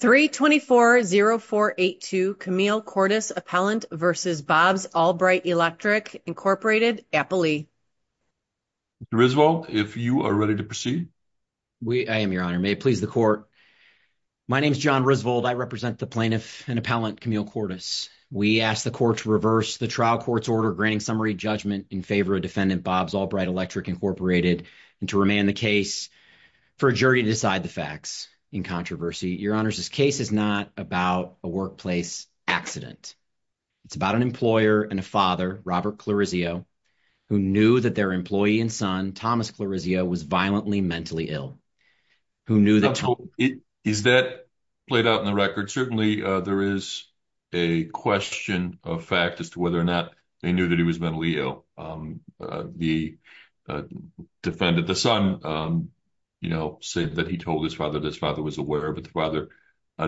324-0482 Camille Kordas, Appellant v. Bob's All Bright Electric, Inc. Risvold, if you are ready to proceed. I am, Your Honor. May it please the Court. My name is John Risvold. I represent the plaintiff and appellant Camille Kordas. We ask the Court to reverse the trial court's order granting summary judgment in favor of defendant Bob's All Bright Electric, Inc. and to remand the case for a jury to decide the facts in controversy. Your Honors, this case is not about a workplace accident. It's about an employer and a father, Robert Clarizio, who knew that their employee and son, Thomas Clarizio, was violently mentally ill. Is that played out in the record? Certainly there is a question of fact as to whether or not they knew that he was mentally ill. The defendant, the son, said that he told his father that his father was aware, but the father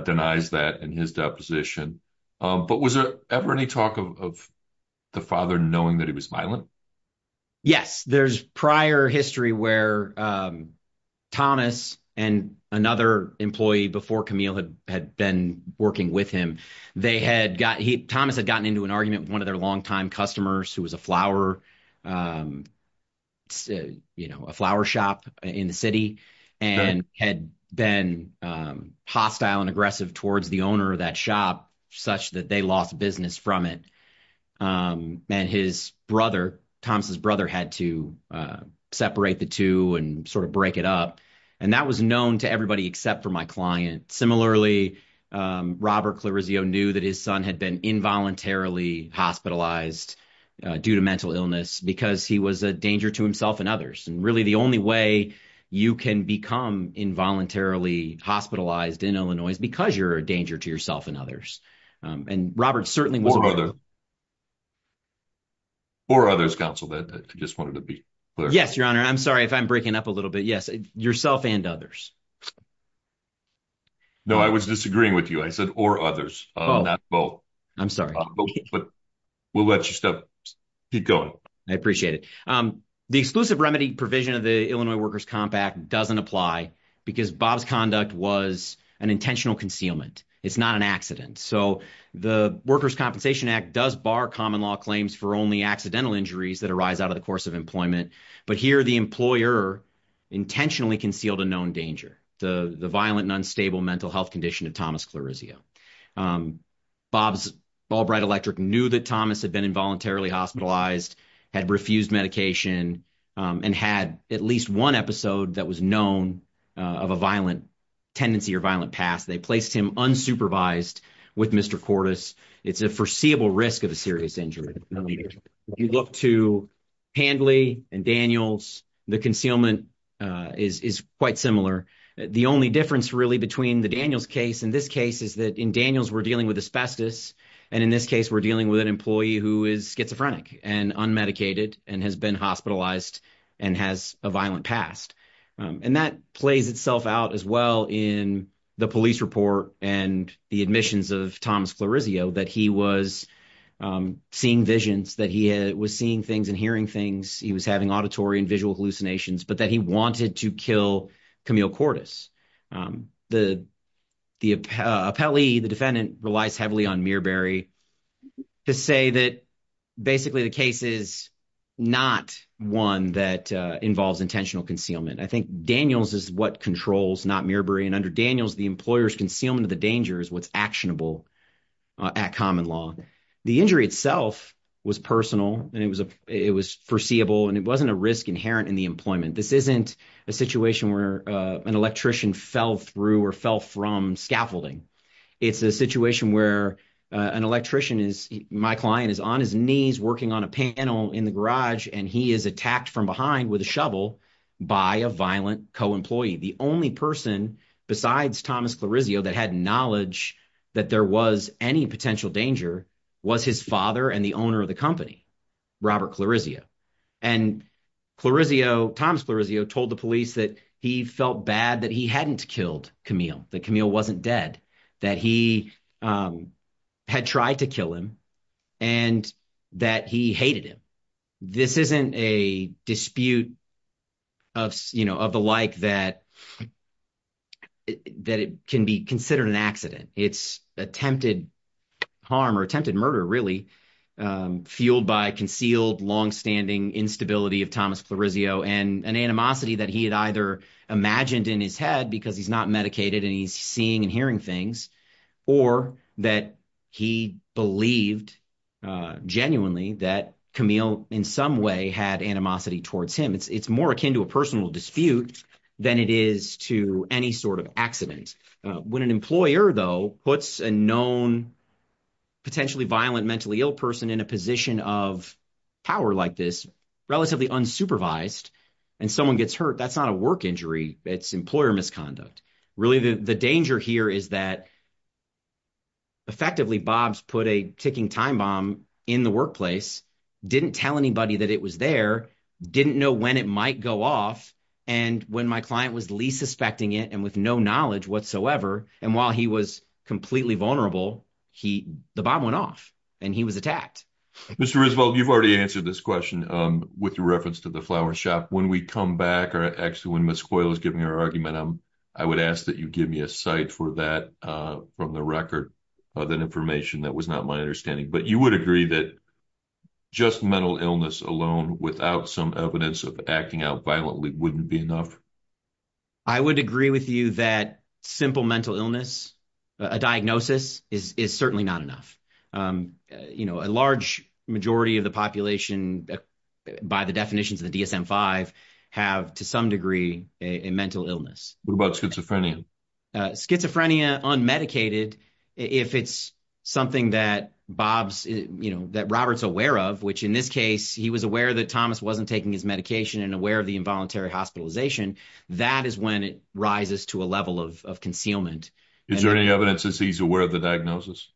denies that in his deposition. But was there ever any talk of the father knowing that he was violent? Yes, there's prior history where Thomas and another employee before Camille had been working with him, they had got, Thomas had gotten into an argument with one of their longtime customers who was a flower, you know, a flower shop in the city and had been hostile and aggressive towards the owner of that shop such that they lost business from it. And his brother, Thomas's brother, had to separate the two and sort of break it up. And that was known to everybody except for my client. Similarly, Robert Clarizio knew that his son had been involuntarily hospitalized due to mental illness because he was a danger to himself and others. And really, the only way you can become involuntarily hospitalized in Illinois is because you're a danger to yourself and others. And Robert certainly was aware. Or others, counsel, I just wanted to be clear. Yes, Your Honor. I'm sorry if I'm breaking up a little bit. Yes, yourself and others. No, I was disagreeing with you. I said, or others, not both. I'm sorry. But we'll let you keep going. I appreciate it. The exclusive remedy provision of the Illinois Workers' Comp Act doesn't apply because Bob's conduct was an intentional concealment. It's not an accident. So the Workers' Compensation Act does bar common law claims for only accidental injuries that arise out of the course of employment. But here, the employer intentionally concealed a known danger, the violent and unstable mental health condition of Thomas Clarizio. Bob's Ball Bright Electric knew that Thomas had been involuntarily hospitalized, had refused medication, and had at least one episode that was known of a violent tendency or violent past. They placed him unsupervised with Mr. Cordes. It's a foreseeable risk of a serious injury. If you look to Handley and Daniels, the concealment is quite similar. The only difference really between the Daniels case and this case is that in Daniels, we're dealing with asbestos. And in this case, we're dealing with an employee who is schizophrenic and unmedicated and has been hospitalized and has a violent past. And that plays itself out as well in the police report and the admissions of Thomas Clarizio, that he was seeing visions, that he was seeing things and hearing things. He was having auditory and visual hallucinations, but that he wanted to kill Camille Cordes. The appellee, the defendant, relies heavily on Miraberry to say that basically the case is not one that involves intentional concealment. I think Daniels is what controls, not Miraberry. And under Daniels, the employer's concealment of the danger is what's actionable at common law. The injury itself was personal and it was foreseeable, and it wasn't a risk inherent in the employment. This isn't a situation where an electrician fell through or fell from scaffolding. It's a situation where an electrician, my client, is on his knees working on a panel in the garage and he is attacked from behind with a shovel by a violent co-employee. The only person besides Thomas Clarizio that had knowledge that there was any potential danger was his father and the owner of the company, Robert Clarizio. And Clarizio, Thomas Clarizio, told the police that he felt bad that he hadn't killed Camille, that Camille wasn't dead, that he had tried to kill him and that he hated him. This isn't a dispute of the like that it can be considered an accident. It's attempted harm or attempted murder, really, fueled by concealed longstanding instability of Thomas Clarizio and an animosity that he had either imagined in his head because he's not medicated and he's seeing and hearing things, or that he believed genuinely that Camille in some way had animosity towards him. It's more akin to a personal dispute than it is to any sort of accident. When an employer, though, puts a known potentially violent, mentally ill person in a position of power like this, relatively unsupervised, and someone gets hurt, that's not a work injury. It's employer misconduct. Really, the danger here is that effectively, Bob's put a ticking time bomb in the workplace, didn't tell anybody that it was there, didn't know when it might go off. When my client was least suspecting it and with no knowledge whatsoever, and while he was completely vulnerable, the bomb went off and he was attacked. Mr. Roosevelt, you've already answered this question with reference to the flower shop. When we come back, or actually when Ms. Coyle is giving her argument, I would ask that you give me a cite for that from the record of that information. That was not my understanding, but you would agree that just mental illness alone without some evidence of acting out violently wouldn't be enough? I would agree with you that simple mental illness, a diagnosis, is certainly not enough. A large majority of the population, by the definitions of the DSM-5, have, to some degree, a mental illness. What about schizophrenia? Schizophrenia, unmedicated, if it's something that Robert's aware of, which in this case, he was aware that Thomas wasn't taking his medication and aware of the involuntary hospitalization, that is when it rises to a level of concealment. Is there any evidence that he's aware of the diagnosis?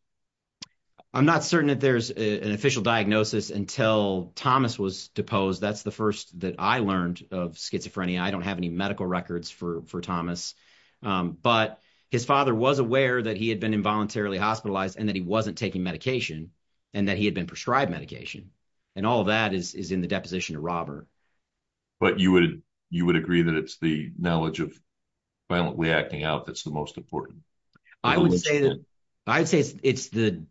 I'm not certain that there's an official diagnosis until Thomas was deposed. That's the first that I learned of schizophrenia. I don't have any medical records for Thomas. His father was aware that he had been involuntarily hospitalized and that he wasn't taking medication and that he had been prescribed medication. All of that is in the deposition of Robert. But you would agree that it's the knowledge of violently acting out that's the most important? I would say it's the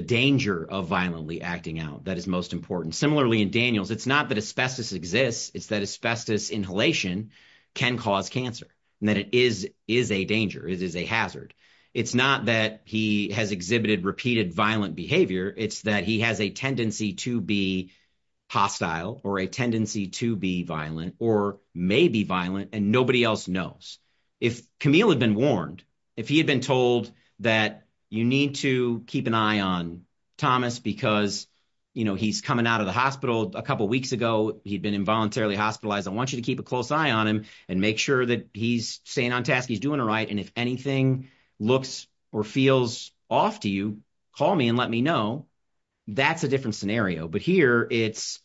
danger of violently acting out that is most important. Similarly, in Daniels, it's not that asbestos exists, it's that asbestos inhalation can cause cancer and that it is a danger. It is a hazard. It's not that he has exhibited repeated violent behavior. It's that he has a tendency to be hostile or a tendency to be violent or may be violent, and nobody else knows. If Camille had been warned, if he had been told that you need to keep an eye on Thomas because he's coming out of the hospital a couple of weeks ago, he'd been involuntarily hospitalized. I want you to keep a close eye on him and make sure that he's staying on task. He's doing all right. And if anything looks or feels off to you, call me and let me know. That's a different scenario. But here, it's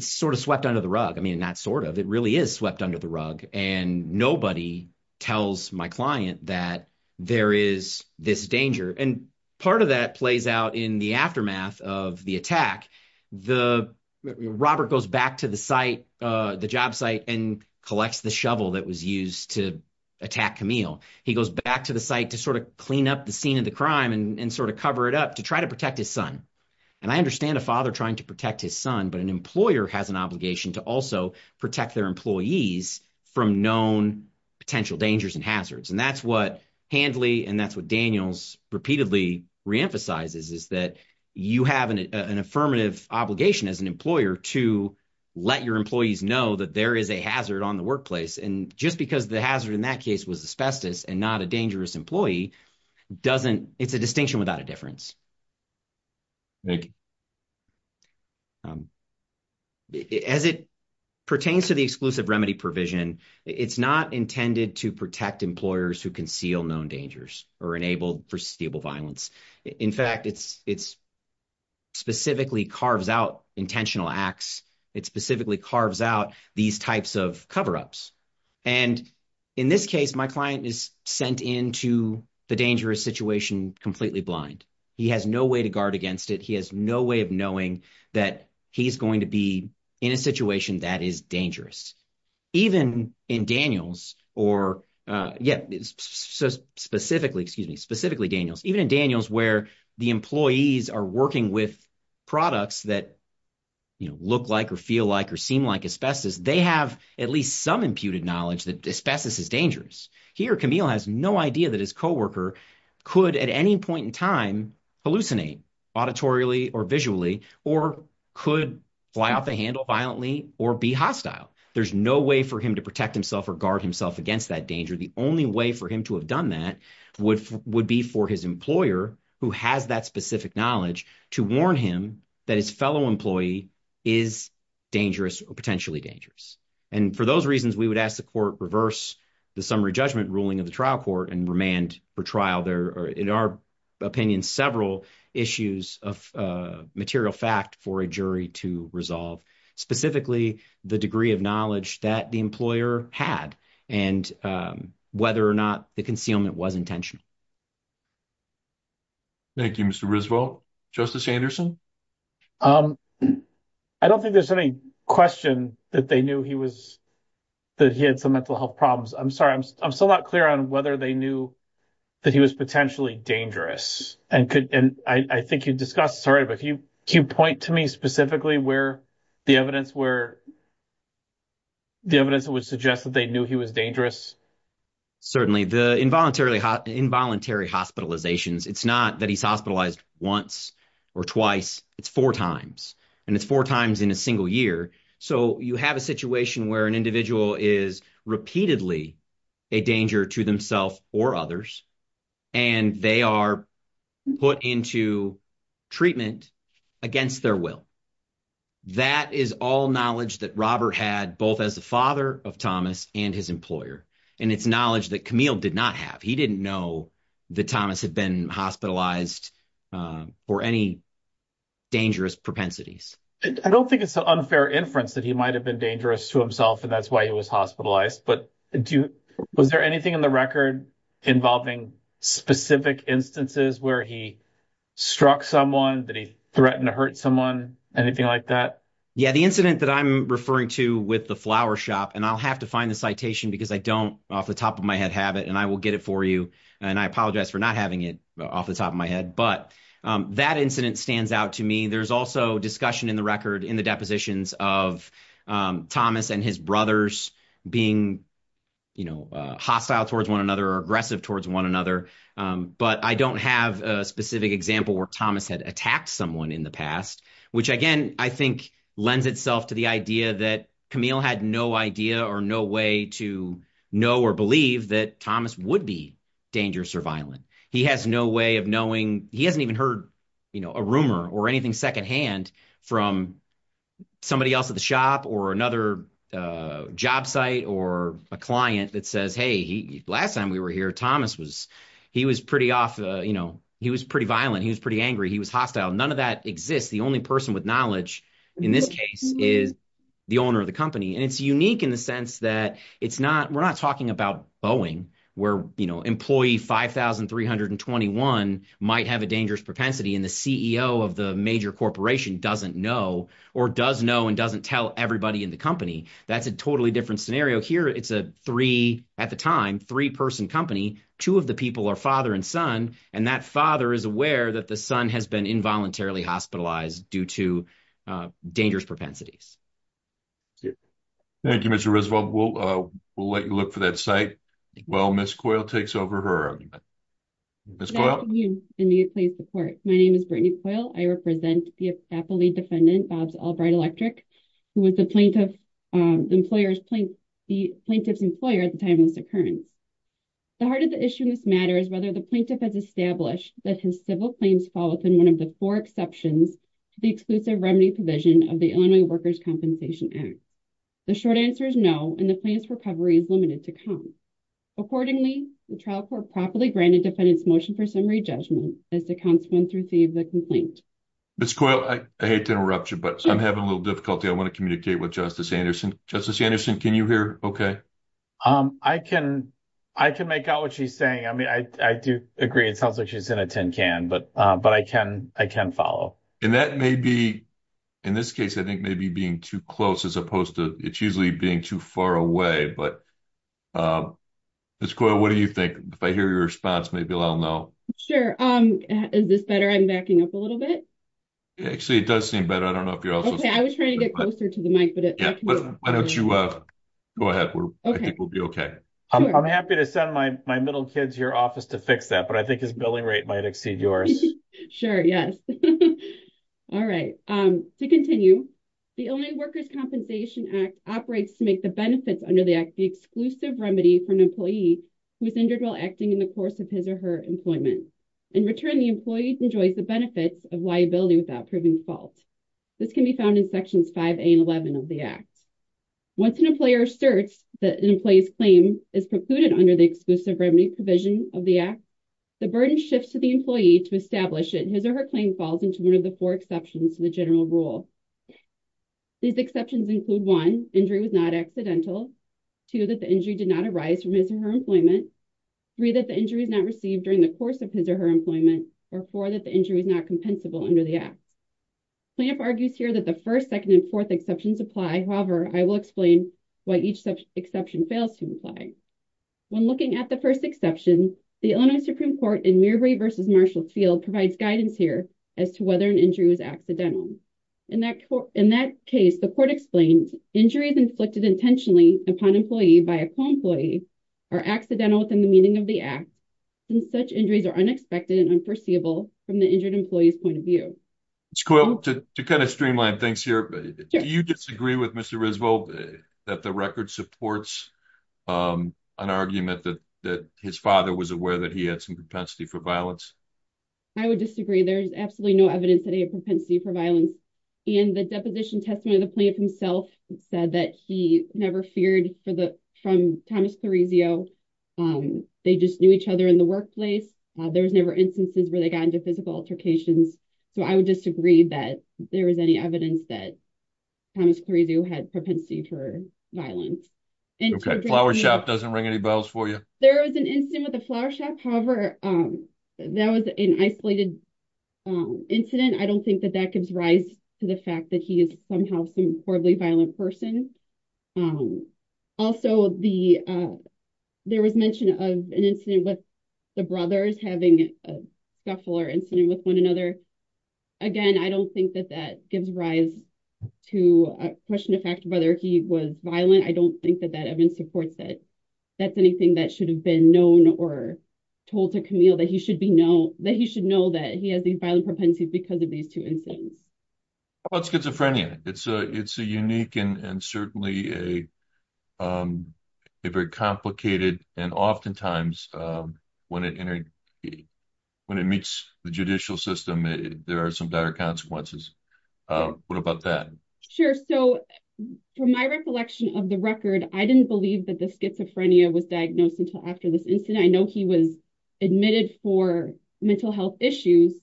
sort of swept under the rug. I mean, not sort of, it really is swept under the rug. And nobody tells my client that there is this danger. And part of that plays out in the aftermath of the attack. The, Robert goes back to the site, the job site and collects the shovel that was used to attack Camille. He goes back to the site to sort of clean up the scene of the crime and sort of cover it up to try to protect his son. And I understand a father trying to protect his son, but an employer has an obligation to also protect their employees from known potential dangers and hazards. And that's what Handley, and that's what Daniels repeatedly reemphasizes is that you have an affirmative obligation as an employer to let your employees know that there is a hazard on the workplace. And just because the hazard in that case was asbestos and not a dangerous employee, it's a distinction without a difference. As it pertains to the exclusive remedy provision, it's not intended to protect employers who conceal known dangers or enable for stable violence. In fact, it's specifically carves out intentional acts. It specifically carves out these types of coverups. And in this case, my client is sent into the dangerous situation completely blind. He has no way to guard against it. He has no way of knowing that he's going to be in a situation that is dangerous. Even in Daniels, specifically Daniels, even in Daniels where the employees are working with products that look like or feel like or seem like asbestos, they have at least some imputed knowledge that asbestos is dangerous. He or Camille has no idea that his coworker could at any point in time hallucinate auditorily or visually or could fly off the handle violently or be hostile. There's no way for him to protect himself or guard himself against that danger. The only way for him to have done that would be for his employer who has that specific knowledge to warn him that his fellow employee is dangerous or potentially dangerous. And for those reasons, we would ask the court reverse the summary judgment ruling of the trial court and remand for trial. There are, in our opinion, several issues of material fact for a jury to resolve, specifically the degree of knowledge that the employer had and whether or not the concealment was intentional. Thank you, Mr. Risvo. Justice Anderson? I don't think there's any question that they knew he was, that he had some mental health problems. I'm sorry, I'm still not clear on whether they knew that he was potentially dangerous and could, and I think you discussed, sorry, but can you point to me specifically where the evidence where the evidence would suggest that they knew he was dangerous? Certainly the involuntary hospitalizations. It's not that he's hospitalized once or twice. It's four times and it's four times in a single year. So you have a situation where an individual is repeatedly a danger to themselves or others and they are put into treatment against their will. That is all knowledge that Robert had, both as the father of Thomas and his employer. And it's knowledge that Camille did not have. He didn't know that Thomas had been hospitalized for any dangerous propensities. I don't think it's an unfair inference that he might have been dangerous to himself and that's why he was hospitalized. But was there anything in the record involving specific instances where he struck someone, that he threatened to hurt someone? Anything like that? Yeah, the incident that I'm referring to with the flower shop, and I'll have to find the citation because I don't off the top of my head have it and I will get it for you. And I apologize for not having it off the top of my head. But that incident stands out to me. There's also discussion in the record, in the depositions of Thomas and his brothers being hostile towards one another or aggressive towards one another. But I don't have a specific example where Thomas had attacked someone in the past which, again, I think lends itself to the idea that Camille had no idea or no way to know or believe that Thomas would be dangerous or violent. He has no way of knowing. He hasn't even heard a rumor or anything secondhand from somebody else at the shop or another job site or a client that says, hey, last time we were here, Thomas was pretty off. He was pretty violent. He was pretty angry. He was hostile. None of that exists. The only person with knowledge in this case is the owner of the company. And it's unique in the sense that we're not talking about Boeing where employee 5,321 might have a dangerous propensity and the CEO of the major corporation doesn't know or does know and doesn't tell everybody in the company. That's a totally different scenario. Here, it's a three, at the time, three-person company. Two of the people are father and son. And that father is aware that the son has been involuntarily hospitalized due to dangerous propensities. Thank you, Mr. Roosevelt. We'll let you look for that site while Ms. Coyle takes over her argument. Good afternoon, and may you please support. My name is Brittany Coyle. I represent the appellee defendant, Bob Albright-Electric, who was the plaintiff's employer at the time of this occurrence. The heart of the issue in this matter is whether the plaintiff has established that his civil claims fall within one of the four exceptions to the exclusive remedy provision of the Illinois Workers' Compensation Act. The short answer is no, and the plaintiff's recovery is limited to count. Accordingly, the trial court properly granted the defendant's motion for summary judgment as to counts 1 through 3 of the complaint. Ms. Coyle, I hate to interrupt you, but I'm having a little difficulty. I want to communicate with Justice Anderson. Justice Anderson, can you hear okay? I can make out what she's saying. I mean, I do agree. It sounds like she's in a tin can, but I can follow. And that may be, in this case, I think maybe being too close as opposed to, it's usually being too far away. But Ms. Coyle, what do you think? If I hear your response, maybe I'll know. Sure. Is this better? I'm backing up a little bit. Actually, it does seem better. I don't know if you're also... Okay, I was trying to get closer to the mic, but it... Why don't you go ahead? I think we'll be okay. I'm happy to send my middle kid to your office to fix that, but I think his billing rate might exceed yours. Sure, yes. All right. To continue, the Illinois Workers' Compensation Act operates to make the benefits under the act the exclusive remedy for an employee who is injured while acting in the course of his or her employment. In return, the employee enjoys the benefits of liability without proving fault. This can be found in Sections 5A and 11 of the act. Once an employer asserts that an employee's claim is precluded under the exclusive remedy provision of the act, the burden shifts to the employee to establish that his or her claim falls into one of the four exceptions to the general rule. These exceptions include, one, injury was not accidental, two, that the injury did not arise from his or her employment, three, that the injury is not received during the course of his or her employment, or four, that the injury is not compensable under the act. Plamp argues here that the first, second, and fourth exceptions apply. However, I will explain why each exception fails to apply. When looking at the first exception, the Illinois Supreme Court in Mirabry v. Marshall's field provides guidance here as to whether an injury was accidental. In that case, the court explains, injuries inflicted intentionally upon an employee by a co-employee are accidental within the meaning of the act, and such injuries are unexpected and unforeseeable from the injured employee's point of view. Ms. Coyle, to kind of streamline things here, do you disagree with Mr. Riesveld that the record supports an argument that his father was aware that he had some propensity for I would disagree. There's absolutely no evidence that he had propensity for violence, and the deposition testimony of the plaintiff himself said that he never feared from Thomas Clarizio. They just knew each other in the workplace. There was never instances where they got into physical altercations. So I would disagree that there was any evidence that Thomas Clarizio had propensity for violence. Okay, Flower Shop doesn't ring any bells for you. There was an incident with the Flower Shop, however, that was an isolated incident. I don't think that that gives rise to the fact that he is somehow some horribly violent person. Also, there was mention of an incident with the brothers having a scuffler incident with another. Again, I don't think that that gives rise to a question of whether he was violent. I don't think that evidence supports that. That's anything that should have been known or told to Camille that he should know that he has these violent propensities because of these two incidents. How about schizophrenia? It's a unique and certainly a very complicated and oftentimes, when it meets the judicial system, there are some dire consequences. What about that? Sure. So from my recollection of the record, I didn't believe that the schizophrenia was diagnosed until after this incident. I know he was admitted for mental health issues,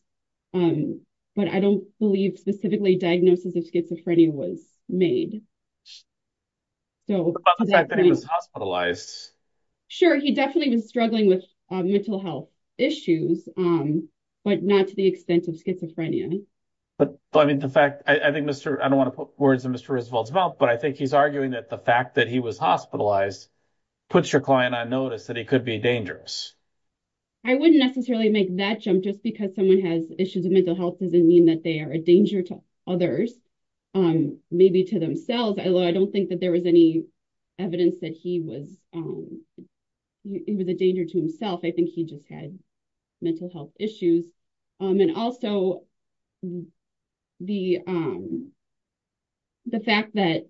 but I don't believe specifically diagnosis of schizophrenia was made. How about the fact that he was hospitalized? Sure, he definitely was struggling with mental health issues, but not to the extent of I don't want to put words in Mr. Roosevelt's mouth, but I think he's arguing that the fact that he was hospitalized puts your client on notice that he could be dangerous. I wouldn't necessarily make that jump. Just because someone has issues of mental health doesn't mean that they are a danger to others, maybe to themselves. Although, I don't think that there was any evidence that he was a danger to himself. I think he just had mental health issues. And also, the fact that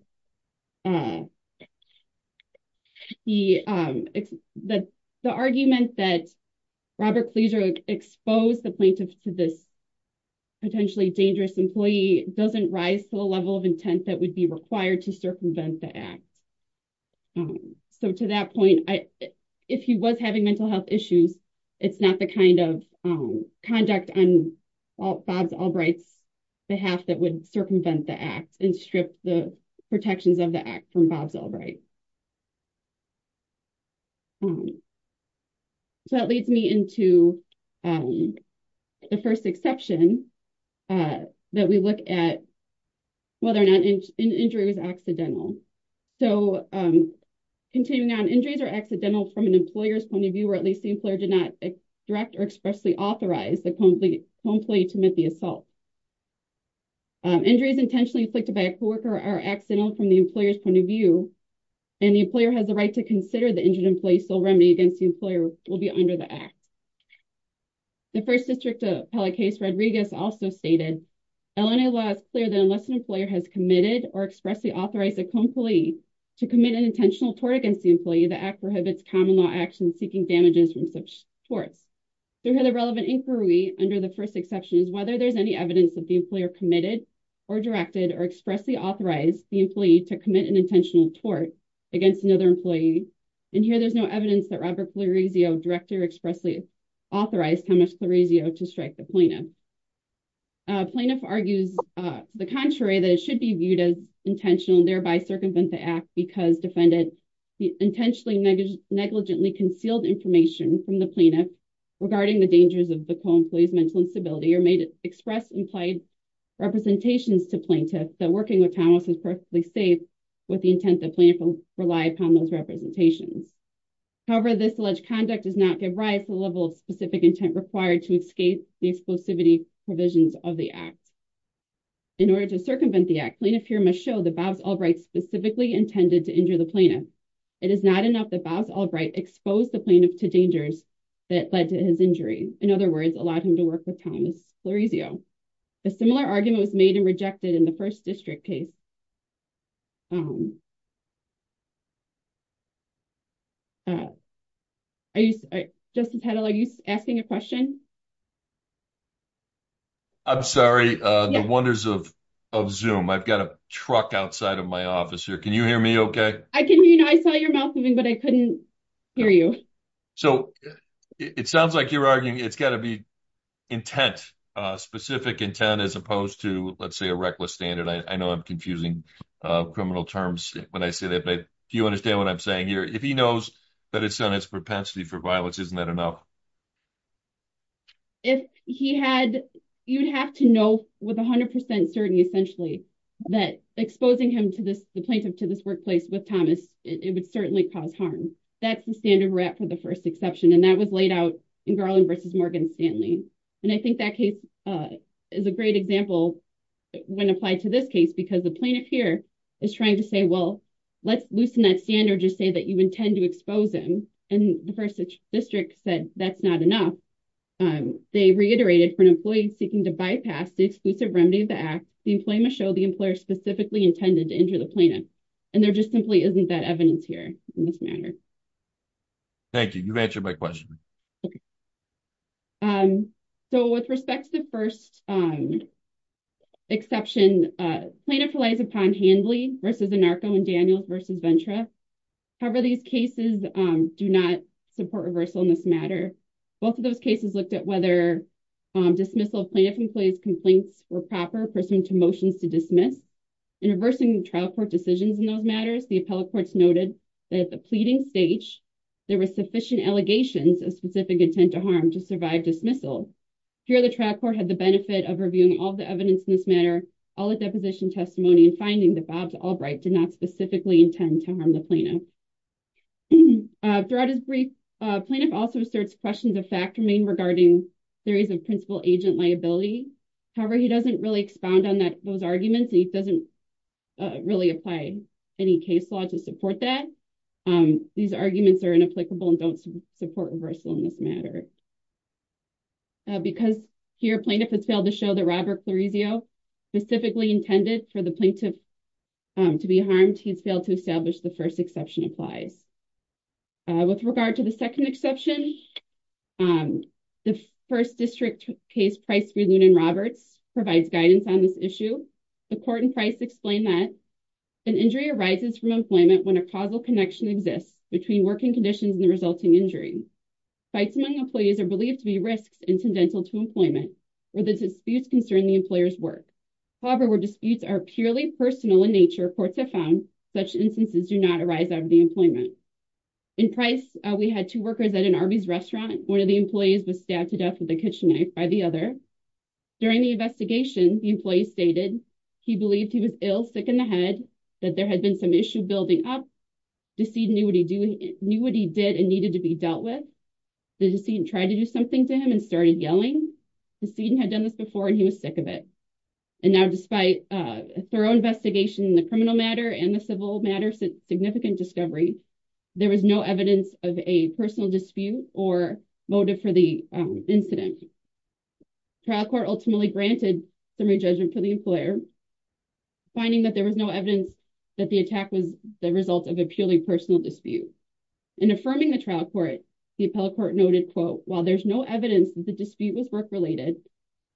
the argument that Robert Kleser exposed the plaintiff to this potentially dangerous employee doesn't rise to the level of intent that would be required to circumvent the act. So to that point, if he was having mental health issues, it's not the kind of conduct on Bob Albright's behalf that would circumvent the act and strip the protections of the act from Bob Albright. So that leads me into the first exception that we look at whether or not an injury was So continuing on, injuries are accidental from an employer's point of view, or at least the employer did not direct or expressly authorize the home employee to commit the assault. Injuries intentionally inflicted by a co-worker are accidental from the employer's point of view, and the employer has the right to consider the injured employee's sole remedy against the employer will be under the act. The First District Appellate case Rodriguez also stated, LNA law is clear that unless an employer has committed or expressly authorized a co-employee to commit an intentional tort against the employee, the act prohibits common law action seeking damages from such torts. So here the relevant inquiry under the first exception is whether there's any evidence that the employer committed or directed or expressly authorized the employee to commit an intentional tort against another employee. And here there's no evidence that Robert Floresio, Director, expressly authorized Thomas Floresio to strike the plaintiff. Plaintiff argues the contrary, that it should be viewed as intentional and thereby circumvent the act because defendant intentionally negligently concealed information from the plaintiff regarding the dangers of the co-employee's mental instability or may express implied representations to plaintiff that working with Thomas is perfectly safe with the intent that plaintiff will rely upon those representations. However, this alleged conduct does not give rise to the level of specific intent required to escape the exclusivity provisions of the act. In order to circumvent the act, plaintiff here must show that Bob Albright specifically intended to injure the plaintiff. It is not enough that Bob Albright exposed the plaintiff to dangers that led to his injury, in other words, allowed him to work with Thomas Floresio. A similar argument was made and rejected in the first district case. Justin Pettel, are you asking a question? I'm sorry, the wonders of Zoom. I've got a truck outside of my office here. Can you hear me okay? I can hear you. I saw your mouth moving, but I couldn't hear you. So, it sounds like you're arguing it's got to be intent, specific intent, as opposed to, let's say, a reckless standard. I know I'm confusing criminal terms when I say that, but do you understand what I'm saying here? If he knows that it's on its propensity for violence, isn't that enough? If he had, you'd have to know with 100% certainty, essentially, that exposing him to this, the plaintiff to this workplace with Thomas, it would certainly cause harm. That's the standard we're at for the first exception, and that was laid out in Garland versus Morgan Stanley. And I think that case is a great example when applied to this case, because the plaintiff here is trying to say, well, let's loosen that standard, just say that you intend to expose him. And the first district said, that's not enough. They reiterated, for an employee seeking to bypass the exclusive remedy of the act, the employee must show the employer specifically intended to injure the plaintiff. And there just simply isn't that evidence here in this matter. Thank you. You've answered my question. So, with respect to the first exception, plaintiff relies upon Handley versus Anarco and Daniel versus Ventra. However, these cases do not support reversal in this matter. Both of those cases looked at whether dismissal of plaintiff employees' complaints were proper pursuant to motions to dismiss. In reversing trial court decisions in those matters, the appellate courts noted that the pleading stage, there were sufficient allegations of specific intent to harm to survive dismissal. Here, the trial court had the benefit of reviewing all the evidence in this matter, all the deposition testimony, and finding that Bob Albright did not specifically intend to harm the plaintiff. Throughout his brief, plaintiff also asserts questions of fact remain regarding theories of principal agent liability. However, he doesn't really expound on those arguments. He doesn't really apply any case law to support that. These arguments are inapplicable and don't support reversal in this matter. Because here, plaintiff has failed to show that Robert Clarizio specifically intended for the plaintiff to be harmed, he has failed to establish the first exception applies. With regard to the second exception, the first district case, Price v. Lunen-Roberts, provides guidance on this issue. The court in Price explained that an injury arises from employment when a causal connection exists between working conditions and the resulting injury. Fights among employees are believed to be risks and tendental to employment, where the disputes concern the employer's work. However, where disputes are purely personal in nature, courts have found such instances do not arise out of the employment. In Price, we had two workers at an Arby's restaurant. One of the employees was stabbed to death with a kitchen knife by the other. During the investigation, the employee stated he believed he was ill, sick in the head, that there had been some issue building up, the decedent knew what he did and needed to be dealt with. The decedent tried to do something to him and started yelling. The decedent had done this before and he was sick of it. And now, despite a thorough investigation in the criminal matter and the civil matter, significant discovery, there was no evidence of a personal dispute or motive for the incident. Trial court ultimately granted summary judgment for the employer. Finding that there was no evidence that the attack was the result of a purely personal dispute. In affirming the trial court, the appellate court noted, quote, while there's no evidence that the dispute was work-related,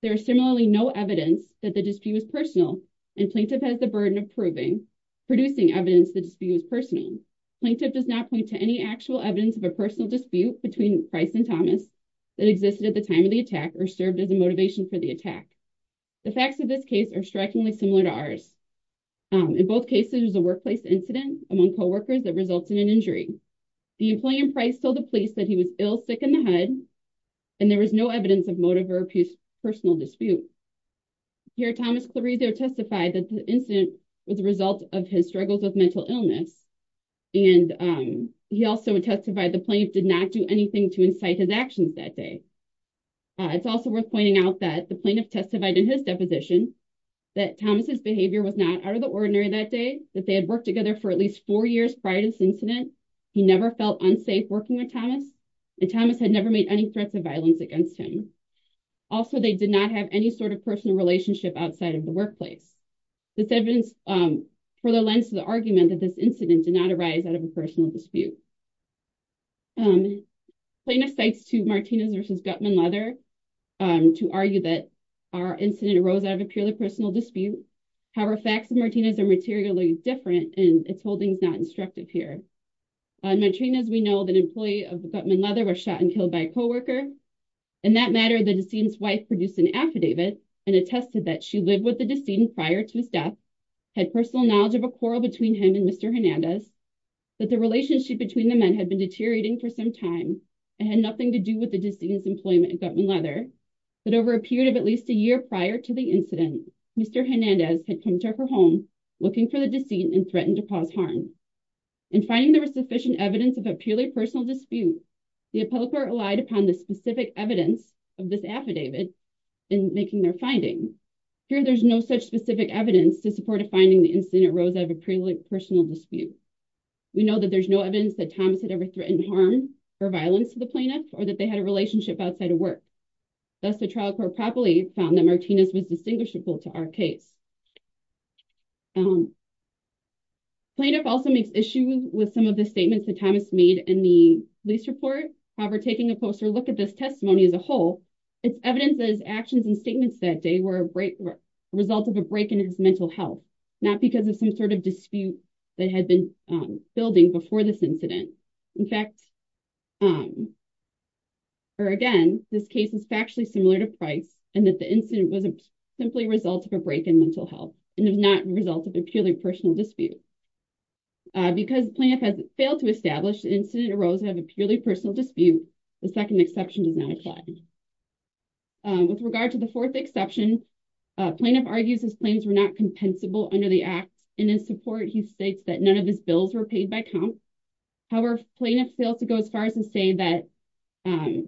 there is similarly no evidence that the dispute was personal and plaintiff has the burden of proving, producing evidence the dispute was personal. Plaintiff does not point to any actual evidence of a personal dispute between Price and Thomas that existed at the time of the attack or served as a motivation for the attack. The facts of this case are strikingly similar to ours. In both cases, it was a workplace incident among co-workers that resulted in injury. The employee and Price told the police that he was ill, sick in the head, and there was no evidence of motive or personal dispute. Here, Thomas Clarido testified that the incident was a result of his struggles with mental illness. And he also testified the plaintiff did not do anything to incite his actions that day. It's also worth pointing out that the plaintiff testified in his deposition that Thomas's behavior was not out of the ordinary that day, that they had worked together for at least four years prior to this incident. He never felt unsafe working with Thomas, and Thomas had never made any threats of violence against him. Also, they did not have any sort of personal relationship outside of the workplace. This evidence further lends to the argument that this incident did not arise out of a personal dispute. The plaintiff cites to Martinez v. Guttman-Leather to argue that our incident arose out of a purely personal dispute. However, facts of Martinez are materially different, and its holding is not instructive here. In Martinez, we know that an employee of Guttman-Leather was shot and killed by a co-worker. In that matter, the decedent's wife produced an affidavit and attested that she lived with the decedent prior to his death, had personal knowledge of a quarrel between him and Mr. Hernandez, had been deteriorating for some time, and had nothing to do with the decedent's employment at Guttman-Leather, but over a period of at least a year prior to the incident, Mr. Hernandez had come to her home looking for the decedent and threatened to cause harm. In finding there was sufficient evidence of a purely personal dispute, the appellate court relied upon the specific evidence of this affidavit in making their finding. Here, there is no such specific evidence to support a finding the incident arose out of a purely personal dispute. We know that there is no evidence that Thomas had ever threatened harm or violence to the plaintiff, or that they had a relationship outside of work. Thus, the trial court properly found that Martinez was distinguishable to our case. Plaintiff also makes issue with some of the statements that Thomas made in the police report. However, taking a closer look at this testimony as a whole, its evidence that his actions and statements that day were a result of a break in his mental health, not because of some sort of dispute that had been building before this incident. In fact, or again, this case is factually similar to Price in that the incident was simply a result of a break in mental health and was not a result of a purely personal dispute. Because the plaintiff has failed to establish the incident arose out of a purely personal dispute, the second exception does not apply. With regard to the fourth exception, plaintiff argues his claims were not compensable under the act, and in support, he states that none of his bills were paid by comp. However, plaintiff failed to go as far as to say that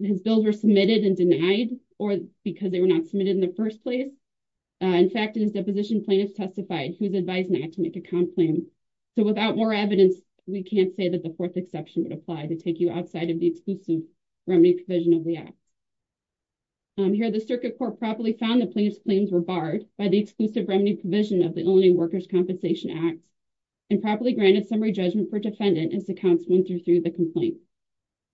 his bills were submitted and denied or because they were not submitted in the first place. In fact, in his deposition, plaintiff testified he was advised not to make a comp claim. So without more evidence, we can't say that the fourth exception would apply to take you outside of the exclusive remedy provision of the act. Here, the circuit court properly found the plaintiff's claims were barred by the exclusive remedy provision of the Illinois Workers' Compensation Act and properly granted summary judgment for defendant as to counts one through three of the complaint.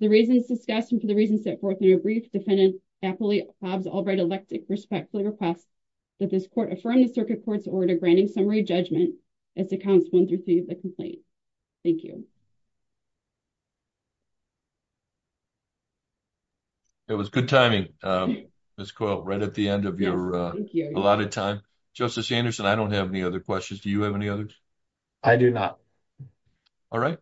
The reasons discussed and for the reasons set forth in a brief defendant, Kapoli Hobbs Albright elected respectfully request that this court affirm the circuit court's order granting summary judgment as to counts one through three of the complaint. Thank you. It was good timing, Ms. Coyle, right at the end of your allotted time. Justice Anderson, I don't have any other questions. Do you have any others? I do not. All right.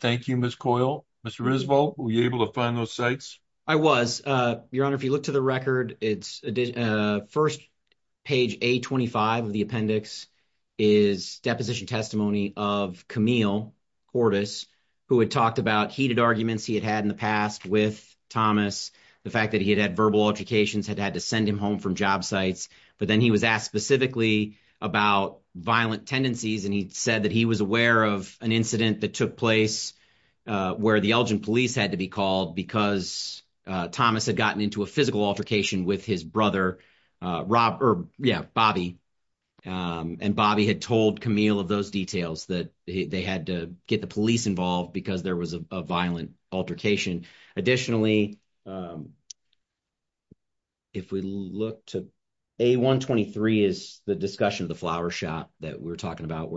Thank you, Ms. Coyle. Mr. Roosevelt, were you able to find those sites? I was, Your Honor. If you look to the record, it's first page A-25 of the appendix is deposition testimony of Camille Cordes, who had talked about heated arguments he had had in the past with Thomas. The fact that he had had verbal altercations had had to send him home from job sites. But then he was asked specifically about violent tendencies. And he said that he was aware of an incident that took place where the Elgin police had to be called because Thomas had gotten into a physical altercation with his brother, Bobby. And Bobby had told Camille of those details that they had to get the police involved because there was a violent altercation. Additionally, if we look to A-123 is the discussion of the flower shop that we're talking about.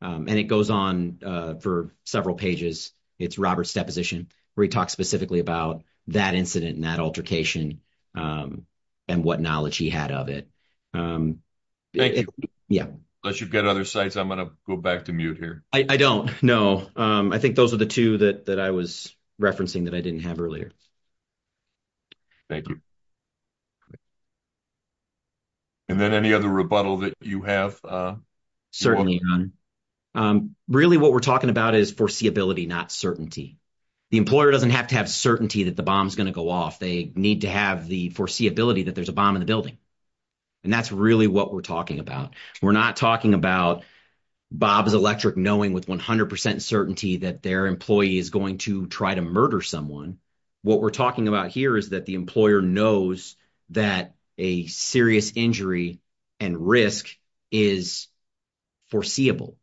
And it goes on for several pages. It's Robert's deposition where he talks specifically about that incident and that altercation and what knowledge he had of it. Thank you. Yeah. Unless you've got other sites, I'm going to go back to mute here. I don't. No. I think those are the two that I was referencing that I didn't have earlier. Thank you. And then any other rebuttal that you have? Certainly. Really, what we're talking about is foreseeability, not certainty. The employer doesn't have to have certainty that the bomb is going to go off. They need to have the foreseeability that there's a bomb in the building. And that's really what we're talking about. We're not talking about Bob's Electric knowing with 100% certainty that their employee is going to try to murder someone. What we're talking about here is that the employer knows that a serious injury and risk is foreseeable,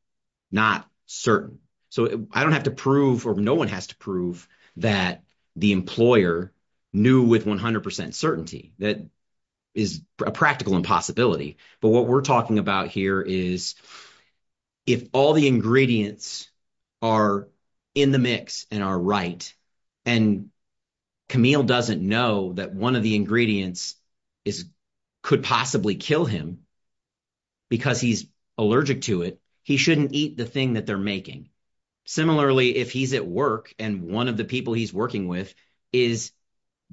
not certain. So I don't have to prove or no one has to prove that the employer knew with 100% certainty that is a practical impossibility. But what we're talking about here is if all the ingredients are in the mix and are right, and Camille doesn't know that one of the ingredients could possibly kill him because he's allergic to it, he shouldn't eat the thing that they're making. Similarly, if he's at work and one of the people he's working with is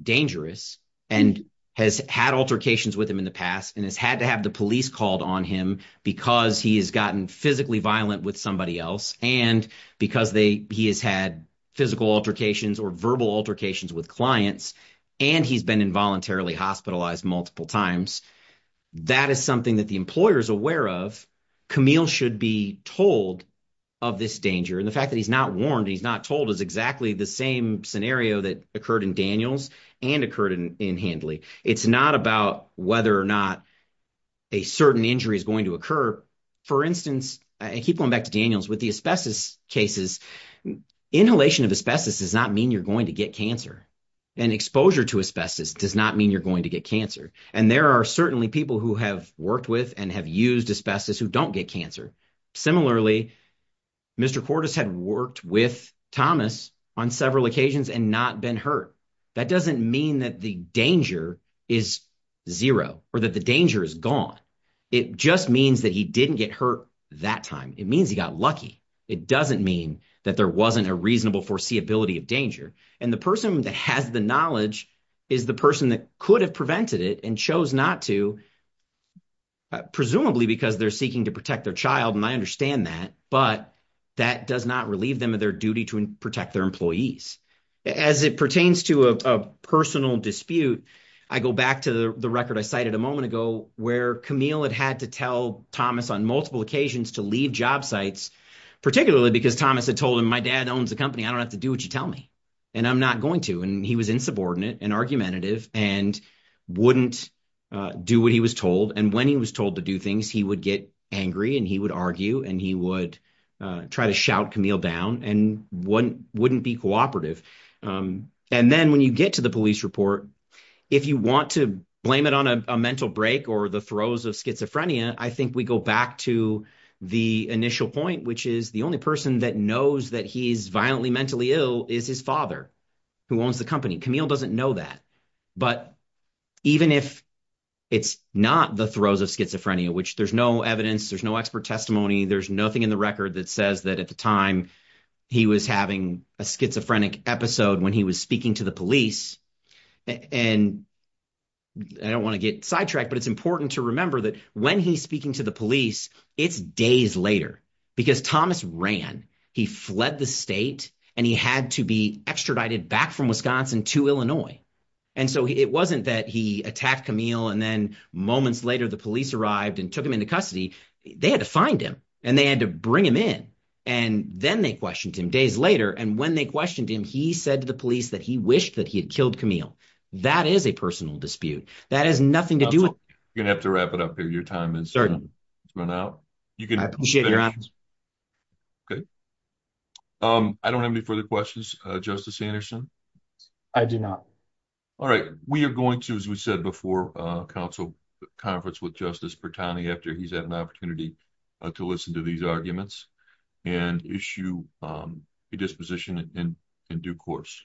dangerous and has had altercations with him in the past and has had to have the police called on him because he has gotten physically violent with somebody else and because he has had physical altercations or verbal altercations with clients and he's been involuntarily hospitalized multiple times, that is something that the employer is aware of. Camille should be told of this danger. And the fact that he's not warned, he's not told is exactly the same scenario that occurred in Daniels and occurred in Handley. It's not about whether or not a certain injury is going to occur. For instance, I keep going back to Daniels with the asbestos cases. Inhalation of asbestos does not mean you're going to get cancer. And exposure to asbestos does not mean you're going to get cancer. And there are certainly people who have worked with and have used asbestos who don't get cancer. Similarly, Mr. Cordes had worked with Thomas on several occasions and not been hurt. That doesn't mean that the danger is zero or that the danger is gone. It just means that he didn't get hurt that time. It means he got lucky. It doesn't mean that there wasn't a reasonable foreseeability of danger. And the person that has the knowledge is the person that could have prevented it and chose not to, presumably because they're seeking to protect their child. And I understand that. But that does not relieve them of their duty to protect their employees. As it pertains to a personal dispute, I go back to the record I cited a moment ago where Camille had had to tell Thomas on multiple occasions to leave job sites, particularly because Thomas had told him, my dad owns the company. I don't have to do what you tell me. And I'm not going to. And he was insubordinate and argumentative and wouldn't do what he was told. And when he was told to do things, he would get angry and he would argue and he would try to shout Camille down and wouldn't be cooperative. And then when you get to the police report, if you want to blame it on a mental break or the throes of schizophrenia, I think we go back to the initial point, which is the only person that knows that he's violently mentally ill is his father, who owns the company. Camille doesn't know that. But even if it's not the throes of schizophrenia, which there's no evidence, there's no expert testimony, there's nothing in the record that says that at the time he was having a schizophrenic episode when he was speaking to the police. And I don't want to get sidetracked, but it's important to remember that when he's speaking to the police, it's days later because Thomas ran. He fled the state and he had to be extradited back from Wisconsin to Illinois. And so it wasn't that he attacked Camille and then moments later, the police arrived and took him into custody. They had to find him and they had to bring him in. And then they questioned him days later. And when they questioned him, he said to the police that he wished that he had killed Camille. That is a personal dispute. That has nothing to do with it. You're going to have to wrap it up here. Your time has run out. I don't have any further questions. Justice Anderson. I do not. All right. We are going to, as we said before, council conference with Justice Bertani after he's had an opportunity to listen to these arguments and issue a disposition in due course.